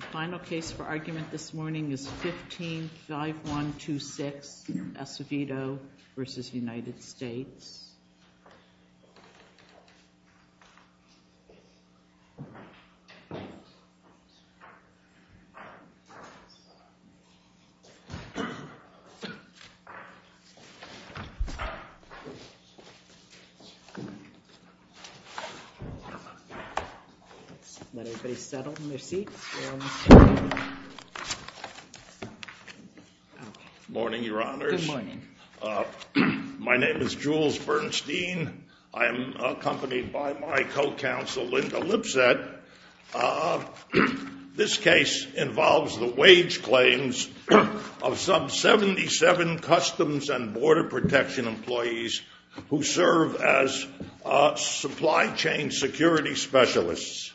The final case for argument this morning is 15-5126 Acevedo v. United States. Let everybody settle in their seats. Morning, Your Honors. Good morning. My name is Jules Bernstein. I am accompanied by my co-counsel Linda Lipset. This case involves the wage claims of some 77 Customs and Border Protection employees who serve as supply chain security specialists.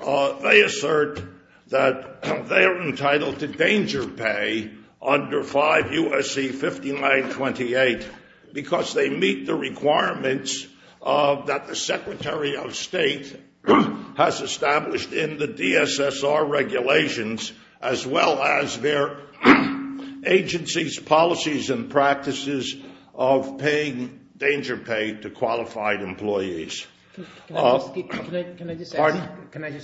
They assert that they are entitled to danger pay under 5 U.S.C. 5928 because they meet the requirements that the Secretary of State has established in the DSSR regulations as well as their agency's policies and practices of paying danger pay to qualified employees. Can I just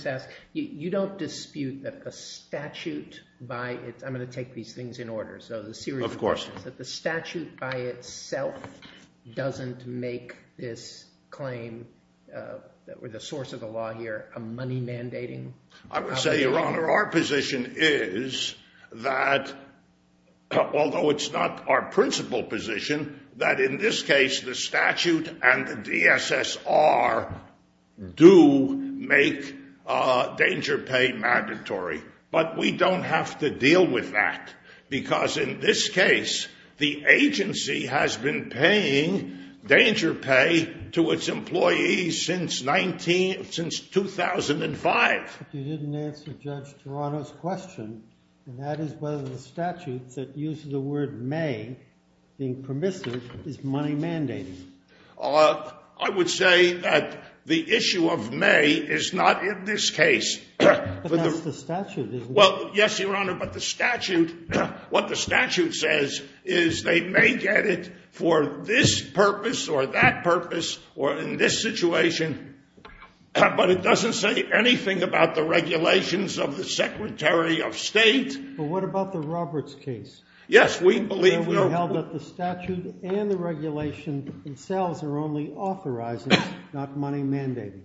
ask, you don't dispute that the statute by itself doesn't make this claim or the source of the law here a money mandating? I would say, Your Honor, our position is that although it's not our principal position that in this case the statute and the DSSR do make danger pay mandatory, but we don't have to deal with that because in this case the agency has been paying danger pay to its employees since 2005. But you didn't answer Judge Toronto's question, and that is whether the statute that uses the word may, being permissive, is money mandating. I would say that the issue of may is not in this case. But that's the statute, isn't it? Well, yes, Your Honor, but the statute, what the statute says is they may get it for this purpose or that purpose or in this situation, but it doesn't say anything about the regulations of the Secretary of State. But what about the Roberts case? Yes, we believe that the statute and the regulation themselves are only authorizing, not money mandating.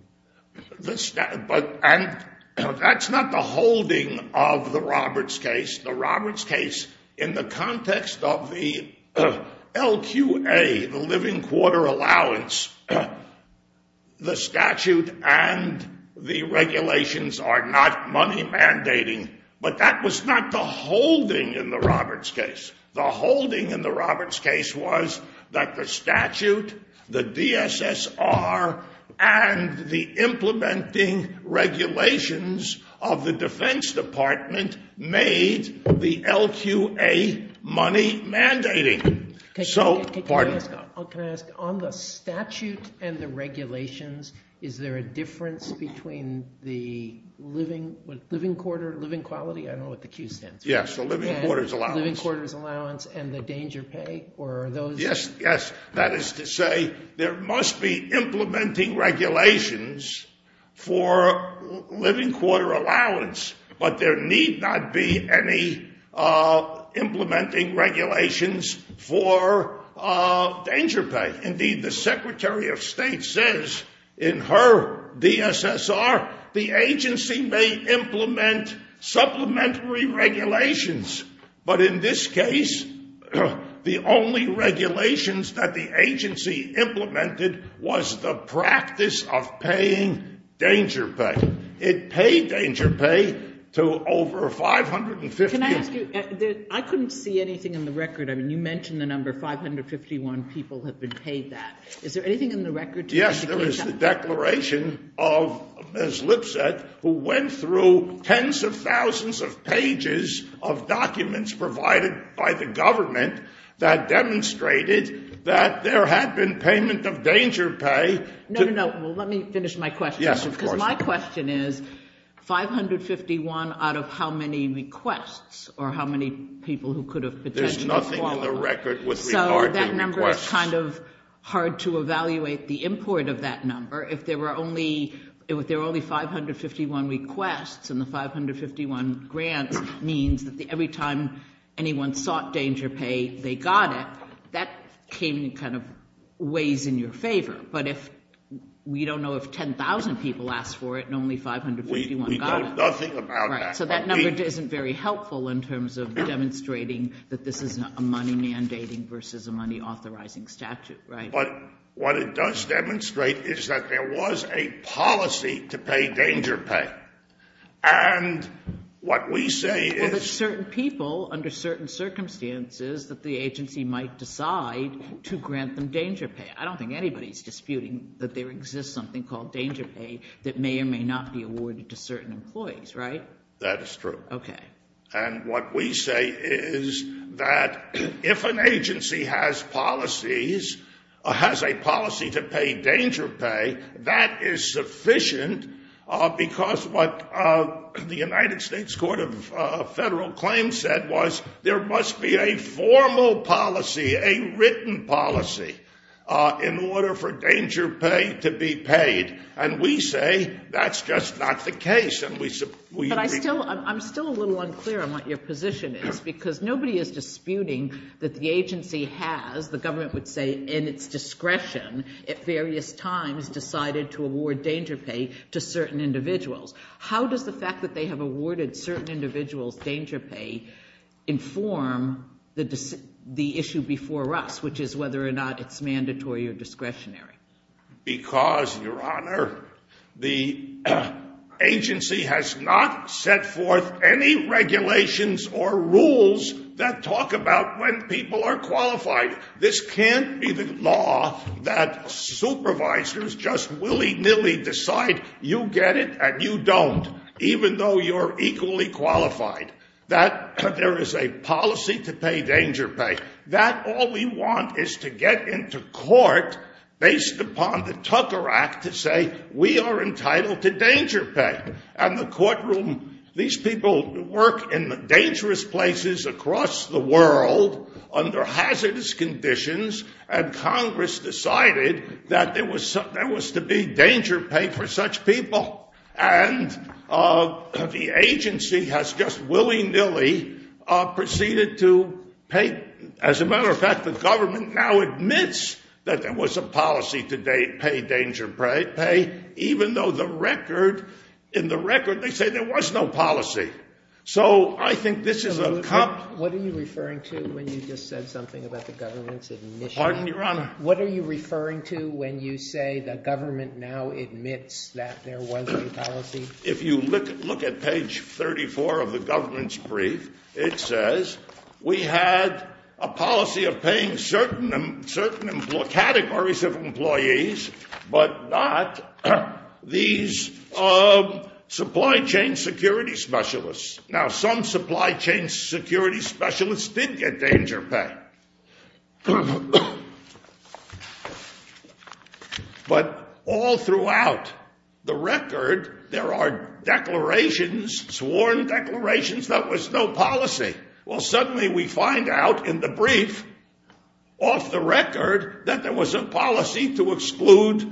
But that's not the holding of the Roberts case. The Roberts case, in the context of the LQA, the living quarter allowance, the statute and the regulations are not money mandating, but that was not the holding in the Roberts case. The holding in the Roberts case was that the statute, the DSSR, and the implementing regulations of the Defense Department made the LQA money mandating. Can I ask, on the statute and the regulations, is there a difference between the living quarter, living quality? I don't know what the Q stands for. Yes, the living quarter's allowance. The living quarter's allowance and the danger pay, or are those? Yes, yes. That is to say, there must be implementing regulations for living quarter allowance, but there need not be any implementing regulations for danger pay. Indeed, the Secretary of State says in her DSSR, the agency may implement supplementary regulations, but in this case, the only regulations that the agency implemented was the practice of paying danger pay. It paid danger pay to over 550. Can I ask you, I couldn't see anything in the record. I mean, you mentioned the number 551 people have been paid that. Is there anything in the record to indicate that? Yes, there is the declaration of Ms. Lipset, who went through tens of thousands of pages of documents provided by the government that demonstrated that there had been payment of danger pay. No, no, no. Well, let me finish my question. Yes, of course. My question is, 551 out of how many requests, or how many people who could have potentially qualified? There's nothing in the record with regard to requests. So that number is kind of hard to evaluate the import of that number. If there were only 551 requests and the 551 grants means that every time anyone sought danger pay, they got it, that came in kind of ways in your favor. But if we don't know if 10,000 people asked for it and only 551 got it. We know nothing about that. So that number isn't very helpful in terms of demonstrating that this is a money mandating versus a money authorizing statute, right? But what it does demonstrate is that there was a policy to pay danger pay. And what we say is... Well, there's certain people under certain circumstances that the agency might decide to grant them danger pay. I don't think anybody's disputing that there exists something called danger pay that may or may not be awarded to certain employees, right? That is true. Okay. And what we say is that if an agency has policies, has a policy to pay danger pay, that is sufficient because what the United States Court of Federal Claims said was there must be a formal policy, a written policy in order for danger pay to be paid. And we say that's just not the case. And we... But I'm still a little unclear on what your position is because nobody is disputing that the agency has, the government would say, in its discretion at various times decided to award danger pay to certain individuals. How does the fact that they have awarded certain individuals danger pay inform the issue before us, which is whether or not it's mandatory or discretionary? Because Your Honor, the agency has not set forth any regulations or rules that talk about when people are qualified. This can't be the law that supervisors just willy-nilly decide you get it and you don't, even though you're equally qualified. That there is a policy to pay danger pay, that all we want is to get into court based upon the Tucker Act to say we are entitled to danger pay. And the courtroom, these people work in dangerous places across the world under hazardous conditions. And Congress decided that there was to be danger pay for such people. And the agency has just willy-nilly proceeded to pay. As a matter of fact, the government now admits that there was a policy to pay danger pay, even though the record, in the record, they say there was no policy. So I think this is a... What are you referring to when you just said something about the government's admission? What are you referring to when you say the government now admits that there was a policy? If you look at page 34 of the government's brief, it says we had a policy of paying certain categories of employees, but not these supply chain security specialists. Now, some supply chain security specialists did get danger pay. But all throughout the record, there are declarations, sworn declarations, that was no policy. Well, suddenly we find out in the brief, off the record, that there was a policy to exclude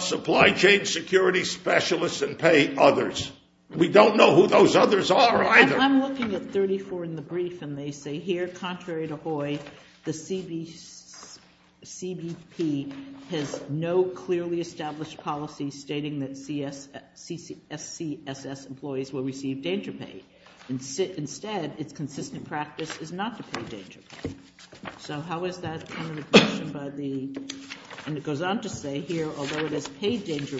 supply chain security specialists and pay others. We don't know who those others are either. I'm looking at 34 in the brief, and they say here, contrary to Hoy, the CBP has no clearly established policy stating that SCSS employees will receive danger pay. Instead, its consistent practice is not to pay danger pay. So how is that kind of admission by the... And it goes on to say here, although it has paid danger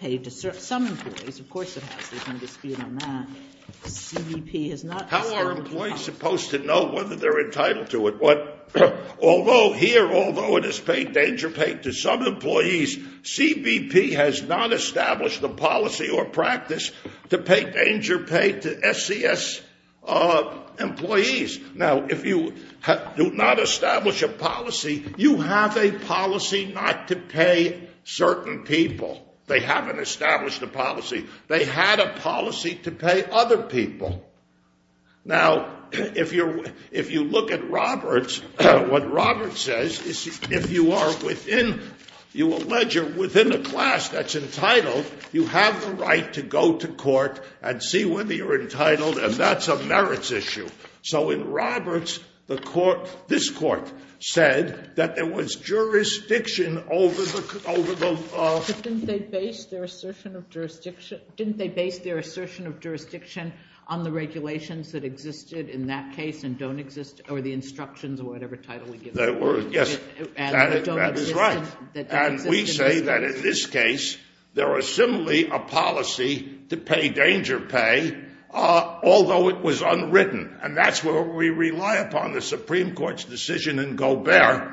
pay to some employees, of course it has, there's no dispute on that, CBP has not established the policy. How are employees supposed to know whether they're entitled to it? Although here, although it has paid danger pay to some employees, CBP has not established the policy or practice to pay danger pay to SCS employees. Now, if you do not establish a policy, you have a policy not to pay certain people. They haven't established a policy. They had a policy to pay other people. Now, if you look at Roberts, what Roberts says is, if you are within, you allege you're within a class that's entitled, you have the right to go to court and see whether you're entitled and that's a merits issue. So in Roberts, this court said that there was jurisdiction over the... But didn't they base their assertion of jurisdiction on the regulations that existed in that case and don't exist, or the instructions or whatever title we give them? Yes, that is right. And we say that in this case, there are similarly a policy to pay danger pay, although it was unwritten. And that's where we rely upon the Supreme Court's decision in Gobert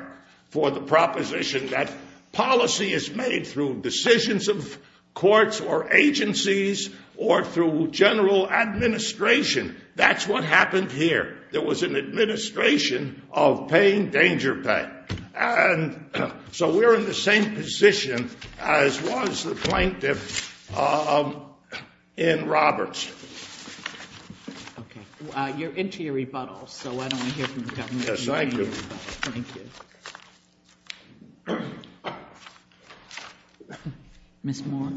for the proposition that policy is made through decisions of courts or agencies or through general administration. That's what happened here. There was an administration of paying danger pay. And so we're in the same position as was the plaintiff in Roberts. Okay. You're into your rebuttals, so I don't want to hear from the government about your rebuttals. Thank you. Thank you. Ms. Moore.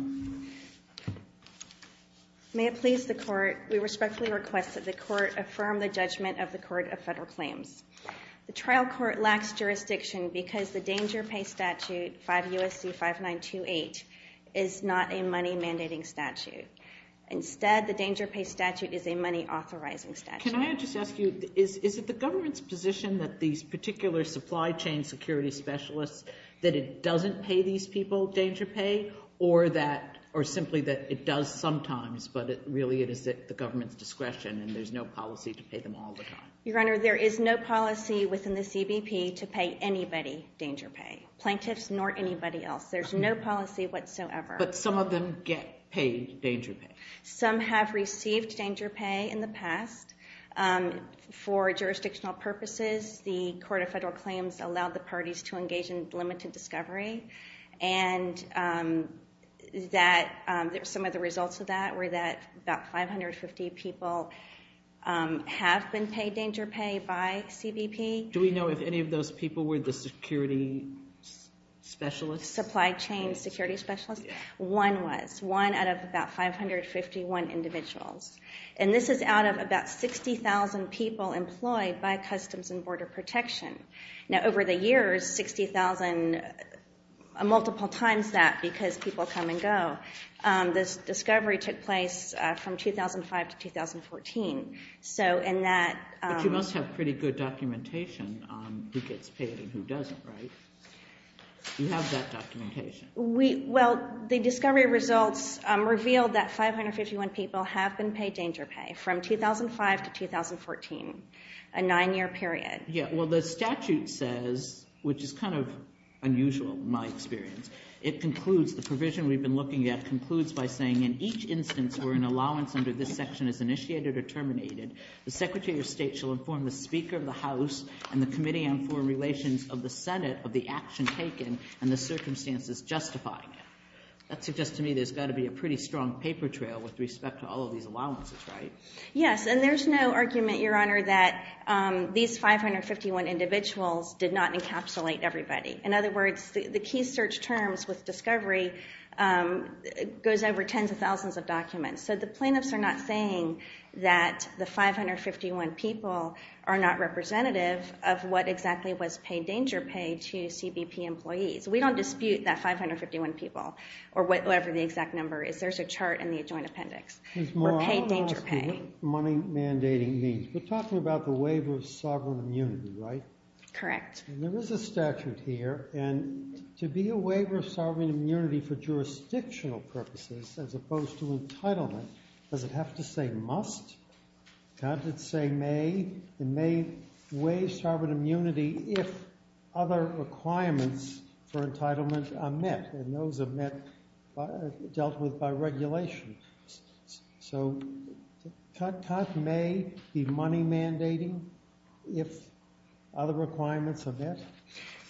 May it please the court, we respectfully request that the court affirm the judgment of the Court of Federal Claims. The trial court lacks jurisdiction because the danger pay statute, 5 U.S.C. 5928, is not a money mandating statute. Instead, the danger pay statute is a money authorizing statute. Can I just ask you, is it the government's position that these particular supply chain security specialists, that it doesn't pay these people danger pay, or simply that it does sometimes, but really it is at the government's discretion and there's no policy to pay them all the time? Your Honor, there is no policy within the CBP to pay anybody danger pay, plaintiffs nor anybody else. There's no policy whatsoever. But some of them get paid danger pay. Some have received danger pay in the past. For jurisdictional purposes, the Court of Federal Claims allowed the parties to engage in limited discovery, and that some of the results of that were that about 550 people have been paid danger pay by CBP. Do we know if any of those people were the security specialists? Supply chain security specialists? Yes. One was. One out of about 551 individuals. And this is out of about 60,000 people employed by Customs and Border Protection. Now over the years, 60,000, multiple times that, because people come and go, this discovery took place from 2005 to 2014. So in that- But you must have pretty good documentation on who gets paid and who doesn't, right? You have that documentation. Well, the discovery results revealed that 551 people have been paid danger pay from 2005 to 2014, a nine-year period. Yeah. Well, the statute says, which is kind of unusual in my experience, it concludes, the provision we've been looking at concludes by saying, in each instance where an allowance under this section is initiated or terminated, the Secretary of State shall inform the Speaker of the House and the Committee on Foreign Relations of the Senate of the action taken and the circumstances justifying it. That suggests to me there's got to be a pretty strong paper trail with respect to all of these allowances, right? Yes. And there's no argument, Your Honor, that these 551 individuals did not encapsulate everybody. In other words, the key search terms with discovery goes over tens of thousands of documents. So the plaintiffs are not saying that the 551 people are not representative of what exactly was paid danger pay to CBP employees. We don't dispute that 551 people or whatever the exact number is. There's a chart in the Adjoint Appendix for paid danger pay. Ms. Morales, what does money mandating mean? We're talking about the waiver of sovereign immunity, right? Correct. There is a statute here, and to be a waiver of sovereign immunity for jurisdictional purposes as opposed to entitlement, does it have to say must? Does it say may? It may waive sovereign immunity if other requirements for entitlement are met, and those are dealt with by regulation. So cut may be money mandating if other requirements are met?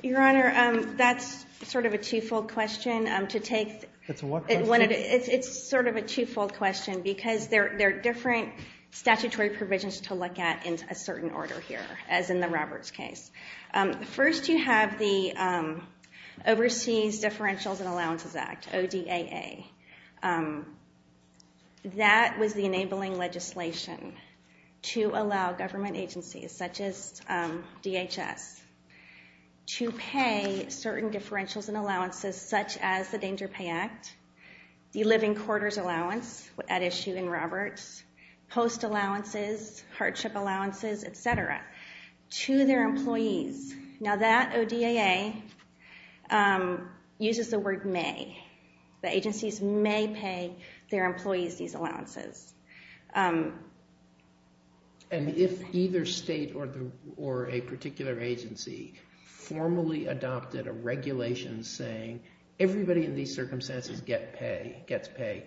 Your Honor, that's sort of a two-fold question to take. It's a what question? It's sort of a two-fold question, because there are different statutory provisions to look at in a certain order here, as in the Roberts case. First you have the Overseas Differentials and Allowances Act, ODAA. That was the enabling legislation to allow government agencies, such as DHS, to pay certain living quarters allowance at issue in Roberts, post allowances, hardship allowances, etc. to their employees. Now that ODAA uses the word may. The agencies may pay their employees these allowances. And if either state or a particular agency formally adopted a regulation saying everybody in these circumstances gets pay,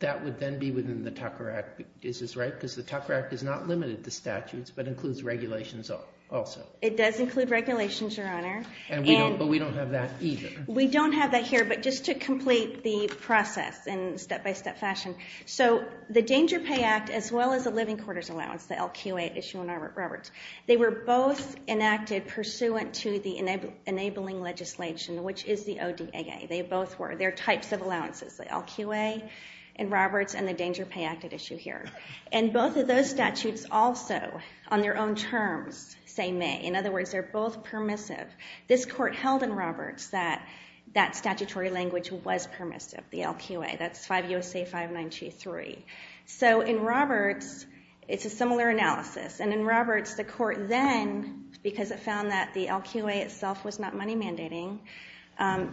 that would then be within the Tucker Act. Is this right? Because the Tucker Act does not limit it to statutes, but includes regulations also. It does include regulations, Your Honor, but we don't have that either. We don't have that here, but just to complete the process in a step-by-step fashion. So the Danger Pay Act, as well as the Living Quarters Allowance, the LQA issue in Roberts, they were both enacted pursuant to the enabling legislation, which is the ODAA. They both were. They're types of allowances, the LQA in Roberts and the Danger Pay Act at issue here. And both of those statutes also, on their own terms, say may. In other words, they're both permissive. This court held in Roberts that that statutory language was permissive, the LQA. That's 5 U.S.A. 592.3. So in Roberts, it's a similar analysis. And in Roberts, the court then, because it found that the LQA itself was not money mandating,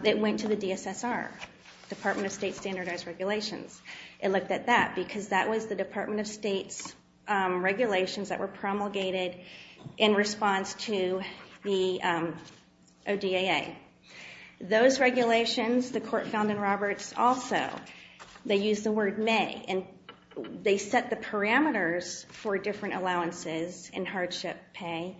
it went to the DSSR, Department of State Standardized Regulations. It looked at that, because that was the Department of State's regulations that were promulgated in response to the ODAA. Those regulations, the court found in Roberts also, they used the word may. And they set the parameters for different allowances in hardship pay,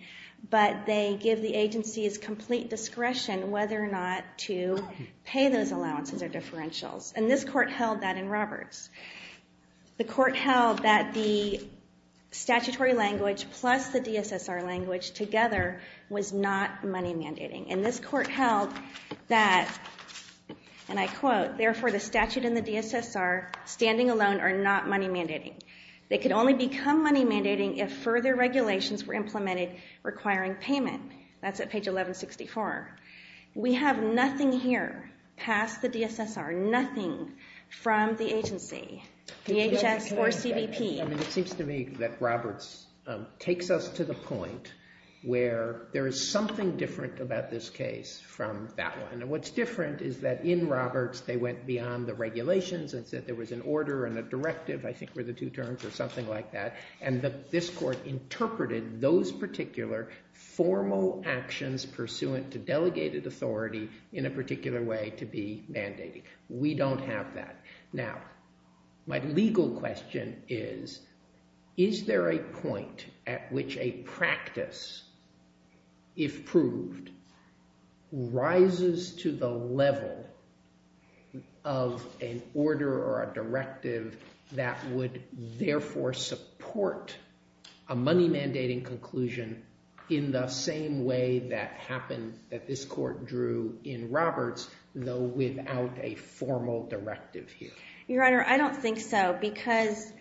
but they give the agencies complete discretion whether or not to pay those allowances or differentials. And this court held that in Roberts. The court held that the statutory language plus the DSSR language together was not money mandating. And this court held that, and I quote, therefore, the statute and the DSSR standing alone are not money mandating. They could only become money mandating if further regulations were implemented requiring payment. That's at page 1164. We have nothing here past the DSSR, nothing from the agency, DHS or CBP. I mean, it seems to me that Roberts takes us to the point where there is something different about this case from that one. And what's different is that in Roberts, they went beyond the regulations and said there was an order and a directive, I think were the two terms or something like that. And this court interpreted those particular formal actions pursuant to delegated authority in a particular way to be mandating. We don't have that. Now, my legal question is, is there a point at which a practice, if proved, rises to the level of an order or a directive that would, therefore, support a money mandating conclusion in the same way that happened, that this court drew in Roberts, though without a formal directive here? Your Honor, I don't think so. Because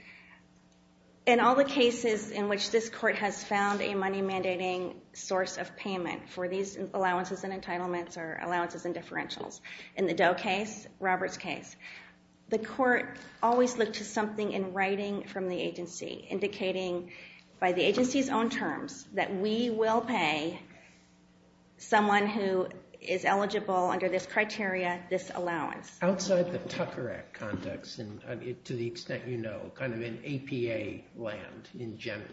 in all the cases in which this court has found a money mandating source of payment for these allowances and entitlements or allowances and differentials, in the Doe case, Roberts case, the court always looked to something in writing from the agency indicating by the agency's own terms that we will pay someone who is eligible under this criteria, this allowance. Outside the Tucker Act context, and to the extent you know, kind of in APA land in general,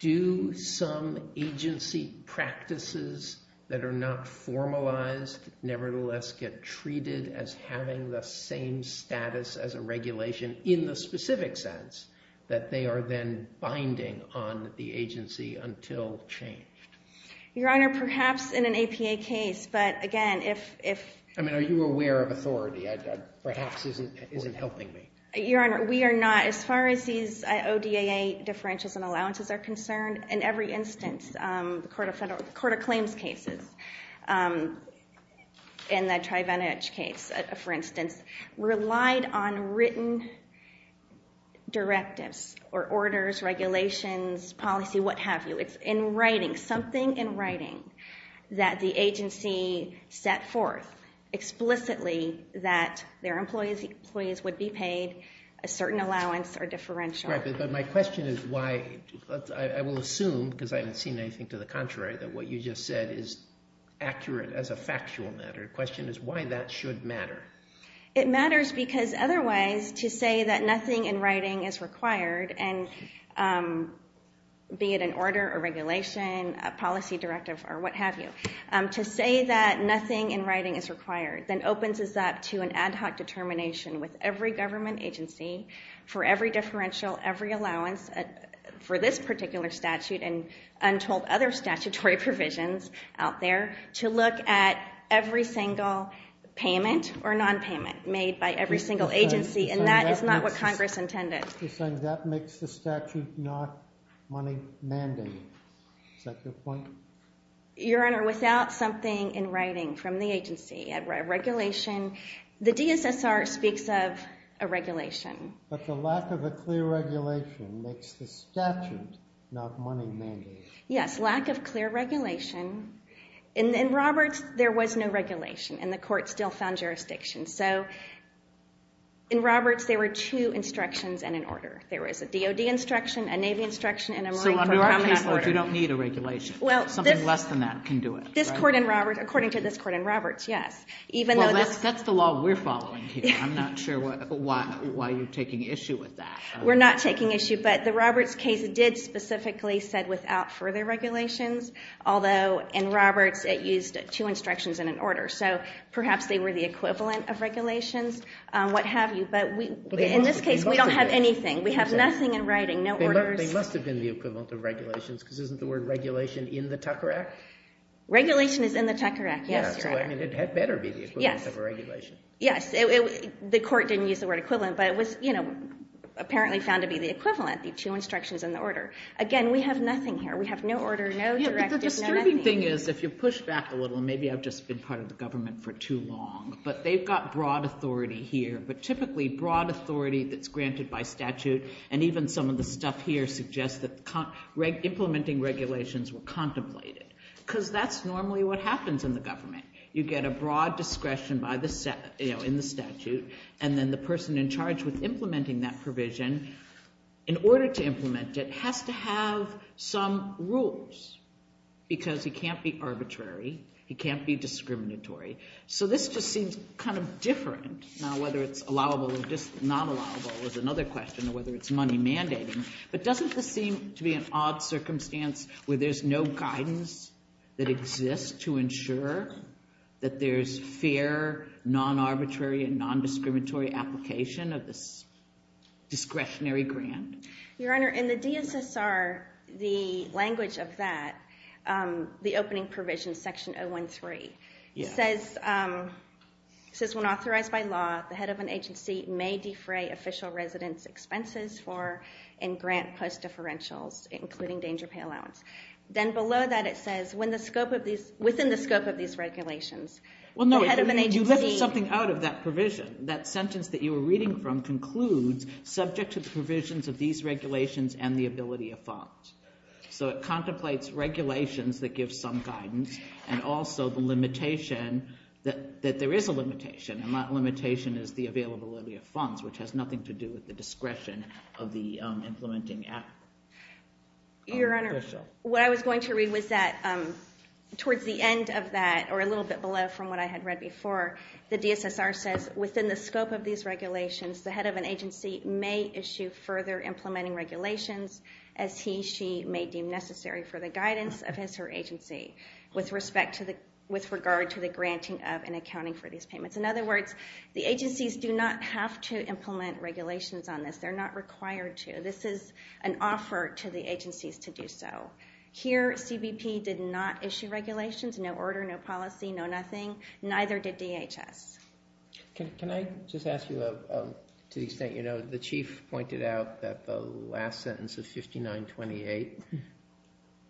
do some agency practices that are not formalized nevertheless get treated as having the same status as a regulation in the specific sense that they are then binding on the agency until changed? Your Honor, perhaps in an APA case, but again, if... I mean, are you aware of authority? That perhaps isn't helping me. Your Honor, we are not, as far as these ODAA differentials and allowances are concerned, in every instance, the Court of Claims cases, in the Trivenage case, for instance, relied on written directives or orders, regulations, policy, what have you. It's in writing, something in writing that the agency set forth explicitly that their employees would be paid a certain allowance or differential. Right, but my question is why, I will assume, because I haven't seen anything to the contrary, that what you just said is accurate as a factual matter. The question is why that should matter. It matters because otherwise, to say that nothing in writing is required, and be it an order or regulation, a policy directive or what have you, to say that nothing in writing is required, then opens us up to an ad hoc determination with every government agency, for every differential, every allowance, for this particular statute and untold other statutory provisions out there, to look at every single payment or non-payment made by every single agency, and that is not what Congress intended. You're saying that makes the statute not money mandate. Is that your point? Your Honor, without something in writing from the agency, a regulation, the DSSR speaks of a regulation. But the lack of a clear regulation makes the statute not money mandate. Yes, lack of clear regulation. In Roberts, there was no regulation, and the court still found jurisdiction. So in Roberts, there were two instructions and an order. There was a DOD instruction, a Navy instruction, and a Marine Corps command order. So under our caseload, you don't need a regulation. Something less than that can do it. This court in Roberts, according to this court in Roberts, yes. Even though this- That's the law we're following here. I'm not sure why you're taking issue with that. We're not taking issue. But the Roberts case did specifically said without further regulations, although in Roberts, it used two instructions and an order. So perhaps they were the equivalent of regulations, what have you. But in this case, we don't have anything. We have nothing in writing, no orders. They must have been the equivalent of regulations, because isn't the word regulation in the Tucker Act? Regulation is in the Tucker Act. Yes, you're right. So I mean, it had better be the equivalent of a regulation. Yes, the court didn't use the word equivalent, but it was apparently found to be the equivalent, the two instructions and the order. Again, we have nothing here. We have no order, no directive, no nothing. Yeah, but the disturbing thing is if you push back a little, and maybe I've just been part of the government for too long, but they've got broad authority here. But typically, broad authority that's granted by statute, and even some of the stuff here suggests that implementing regulations were contemplated, because that's normally what happens in the government. You get a broad discretion in the statute, and then the person in charge with implementing that provision, in order to implement it, has to have some rules, because he can't be arbitrary. He can't be discriminatory. So this just seems kind of different. Now, whether it's allowable or not allowable is another question, or whether it's money mandating. But doesn't this seem to be an odd circumstance, where there's no guidance that exists to ensure that there's fair, non-arbitrary, and non-discriminatory application of this discretionary grant? Your Honor, in the DSSR, the language of that, the opening provision, section 013, says, when authorized by law, the head of an agency may defray official residence expenses and grant post-differentials, including danger pay allowance. Then below that, it says, within the scope of these regulations, the head of an agency. Well, no, you lifted something out of that provision. That sentence that you were reading from concludes, subject to the provisions of these regulations and the ability of thought. So it contemplates regulations that give some guidance, and also the limitation, that there is a limitation, and that limitation is the availability of funds, which has nothing to do with the discretion of the implementing act. Your Honor, what I was going to read was that, towards the end of that, or a little bit below from what I had read before, the DSSR says, within the scope of these regulations, the head of an agency may issue further implementing regulations, as he, she may deem necessary for the guidance of his or her agency, with regard to the granting of and accounting for these payments. In other words, the agencies do not have to implement regulations on this. They're not required to. This is an offer to the agencies to do so. Here, CBP did not issue regulations, no order, no policy, no nothing. Neither did DHS. Can I just ask you, to the extent you know, the chief pointed out that the last sentence of 5928,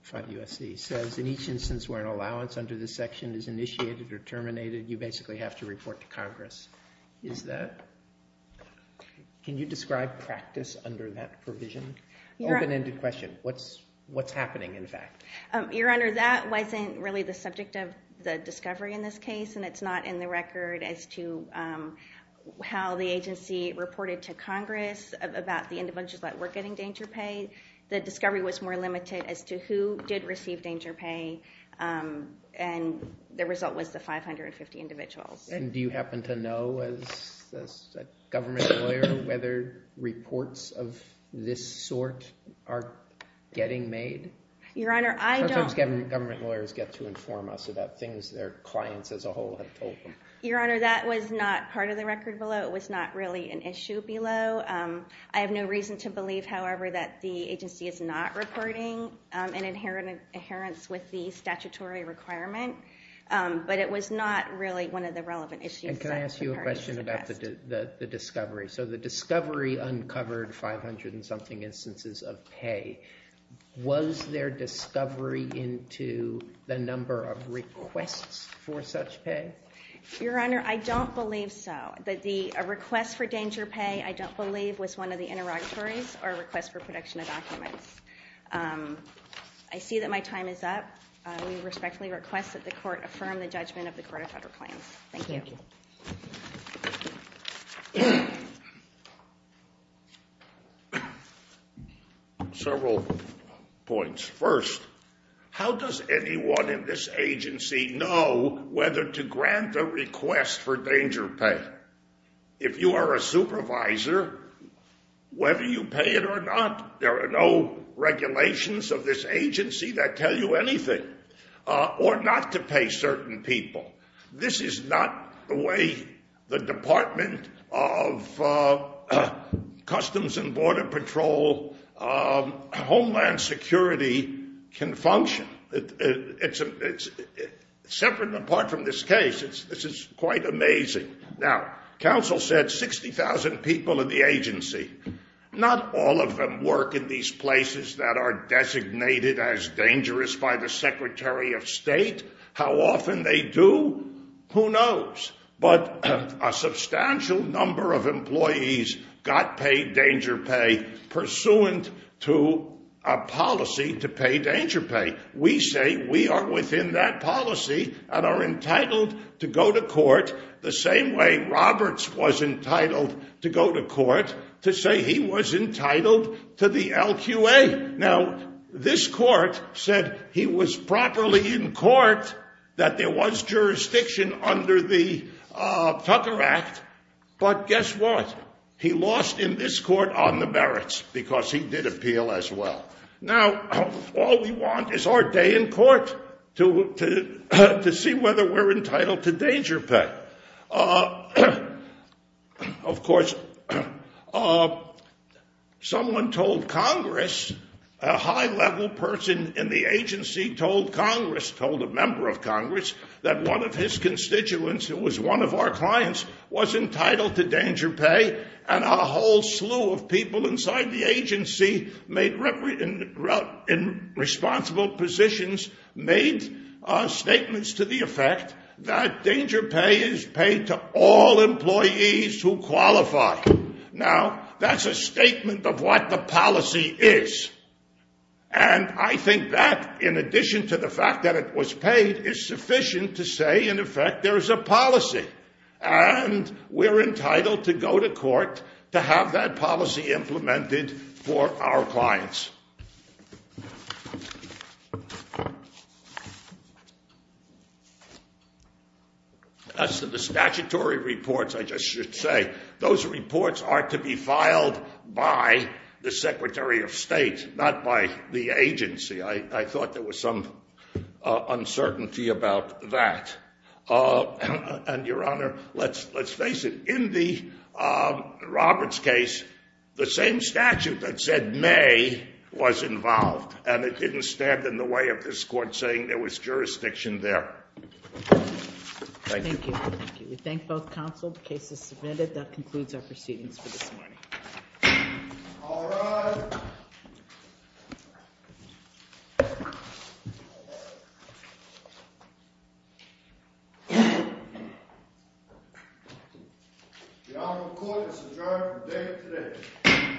5 USC, says, in each instance where an allowance under this section is initiated or terminated, you basically have to report to Congress. Is that, can you describe practice under that provision? Open-ended question, what's happening, in fact? Your Honor, that wasn't really the subject of the discovery in this case. And it's not in the record as to how the agency reported to Congress about the individuals that were getting danger pay. The discovery was more limited as to who did receive danger pay. And the result was the 550 individuals. And do you happen to know, as a government lawyer, whether reports of this sort are getting made? Your Honor, I don't. Sometimes government lawyers get to inform us about things their clients as a whole have told them. Your Honor, that was not part of the record below. It was not really an issue below. I have no reason to believe, however, that the agency is not reporting an inheritance with the statutory requirement. But it was not really one of the relevant issues that the parties discussed. And can I ask you a question about the discovery? So the discovery uncovered 500 and something instances of pay. Was there discovery into the number of requests for such pay? Your Honor, I don't believe so. But a request for danger pay, I don't believe, was one of the interrogatories, or a request for production of documents. I see that my time is up. I respectfully request that the court affirm the judgment of the Court of Federal Claims. Thank you. Thank you. Several points. First, how does anyone in this agency know whether to grant a request for danger pay? If you are a supervisor, whether you pay it or not, there are no regulations of this agency that tell you anything. Or not to pay certain people. This is not the way the Department of Customs and Border Patrol Homeland Security can function. Separate and apart from this case, this is quite amazing. Now, counsel said 60,000 people in the agency. Not all of them work in these places that are designated as dangerous by the Secretary of State. How often they do, who knows? But a substantial number of employees got paid danger pay pursuant to a policy to pay danger pay. We say we are within that policy and are entitled to go to court the same way Roberts was entitled to go to court to say he was entitled to the LQA. Now, this court said he was properly in court, that there was jurisdiction under the Tucker Act. But guess what? He lost in this court on the merits because he did appeal as well. Now, all we want is our day in court to see whether we're entitled to danger pay. Of course, someone told Congress, a high level person in the agency told Congress, told a member of Congress, that one of his constituents, who was one of our clients, was entitled to danger pay. And a whole slew of people inside the agency made in responsible positions made statements to the effect that danger pay is paid to all employees who qualify. Now, that's a statement of what the policy is. And I think that, in addition to the fact that it was paid, is sufficient to say, in effect, there is a policy. And we're entitled to go to court to have that policy implemented for our clients. As to the statutory reports, I just should say, those reports are to be filed by the Secretary of State, not by the agency. I thought there was some uncertainty about that. And Your Honor, let's face it. In the Roberts case, the same statute that said may was involved. And it didn't stand in the way of this court saying there was jurisdiction there. Thank you. Thank you. We thank both counsel. The case is submitted. That concludes our proceedings for this morning. All rise. The Honorable Court is adjourned for the day of today.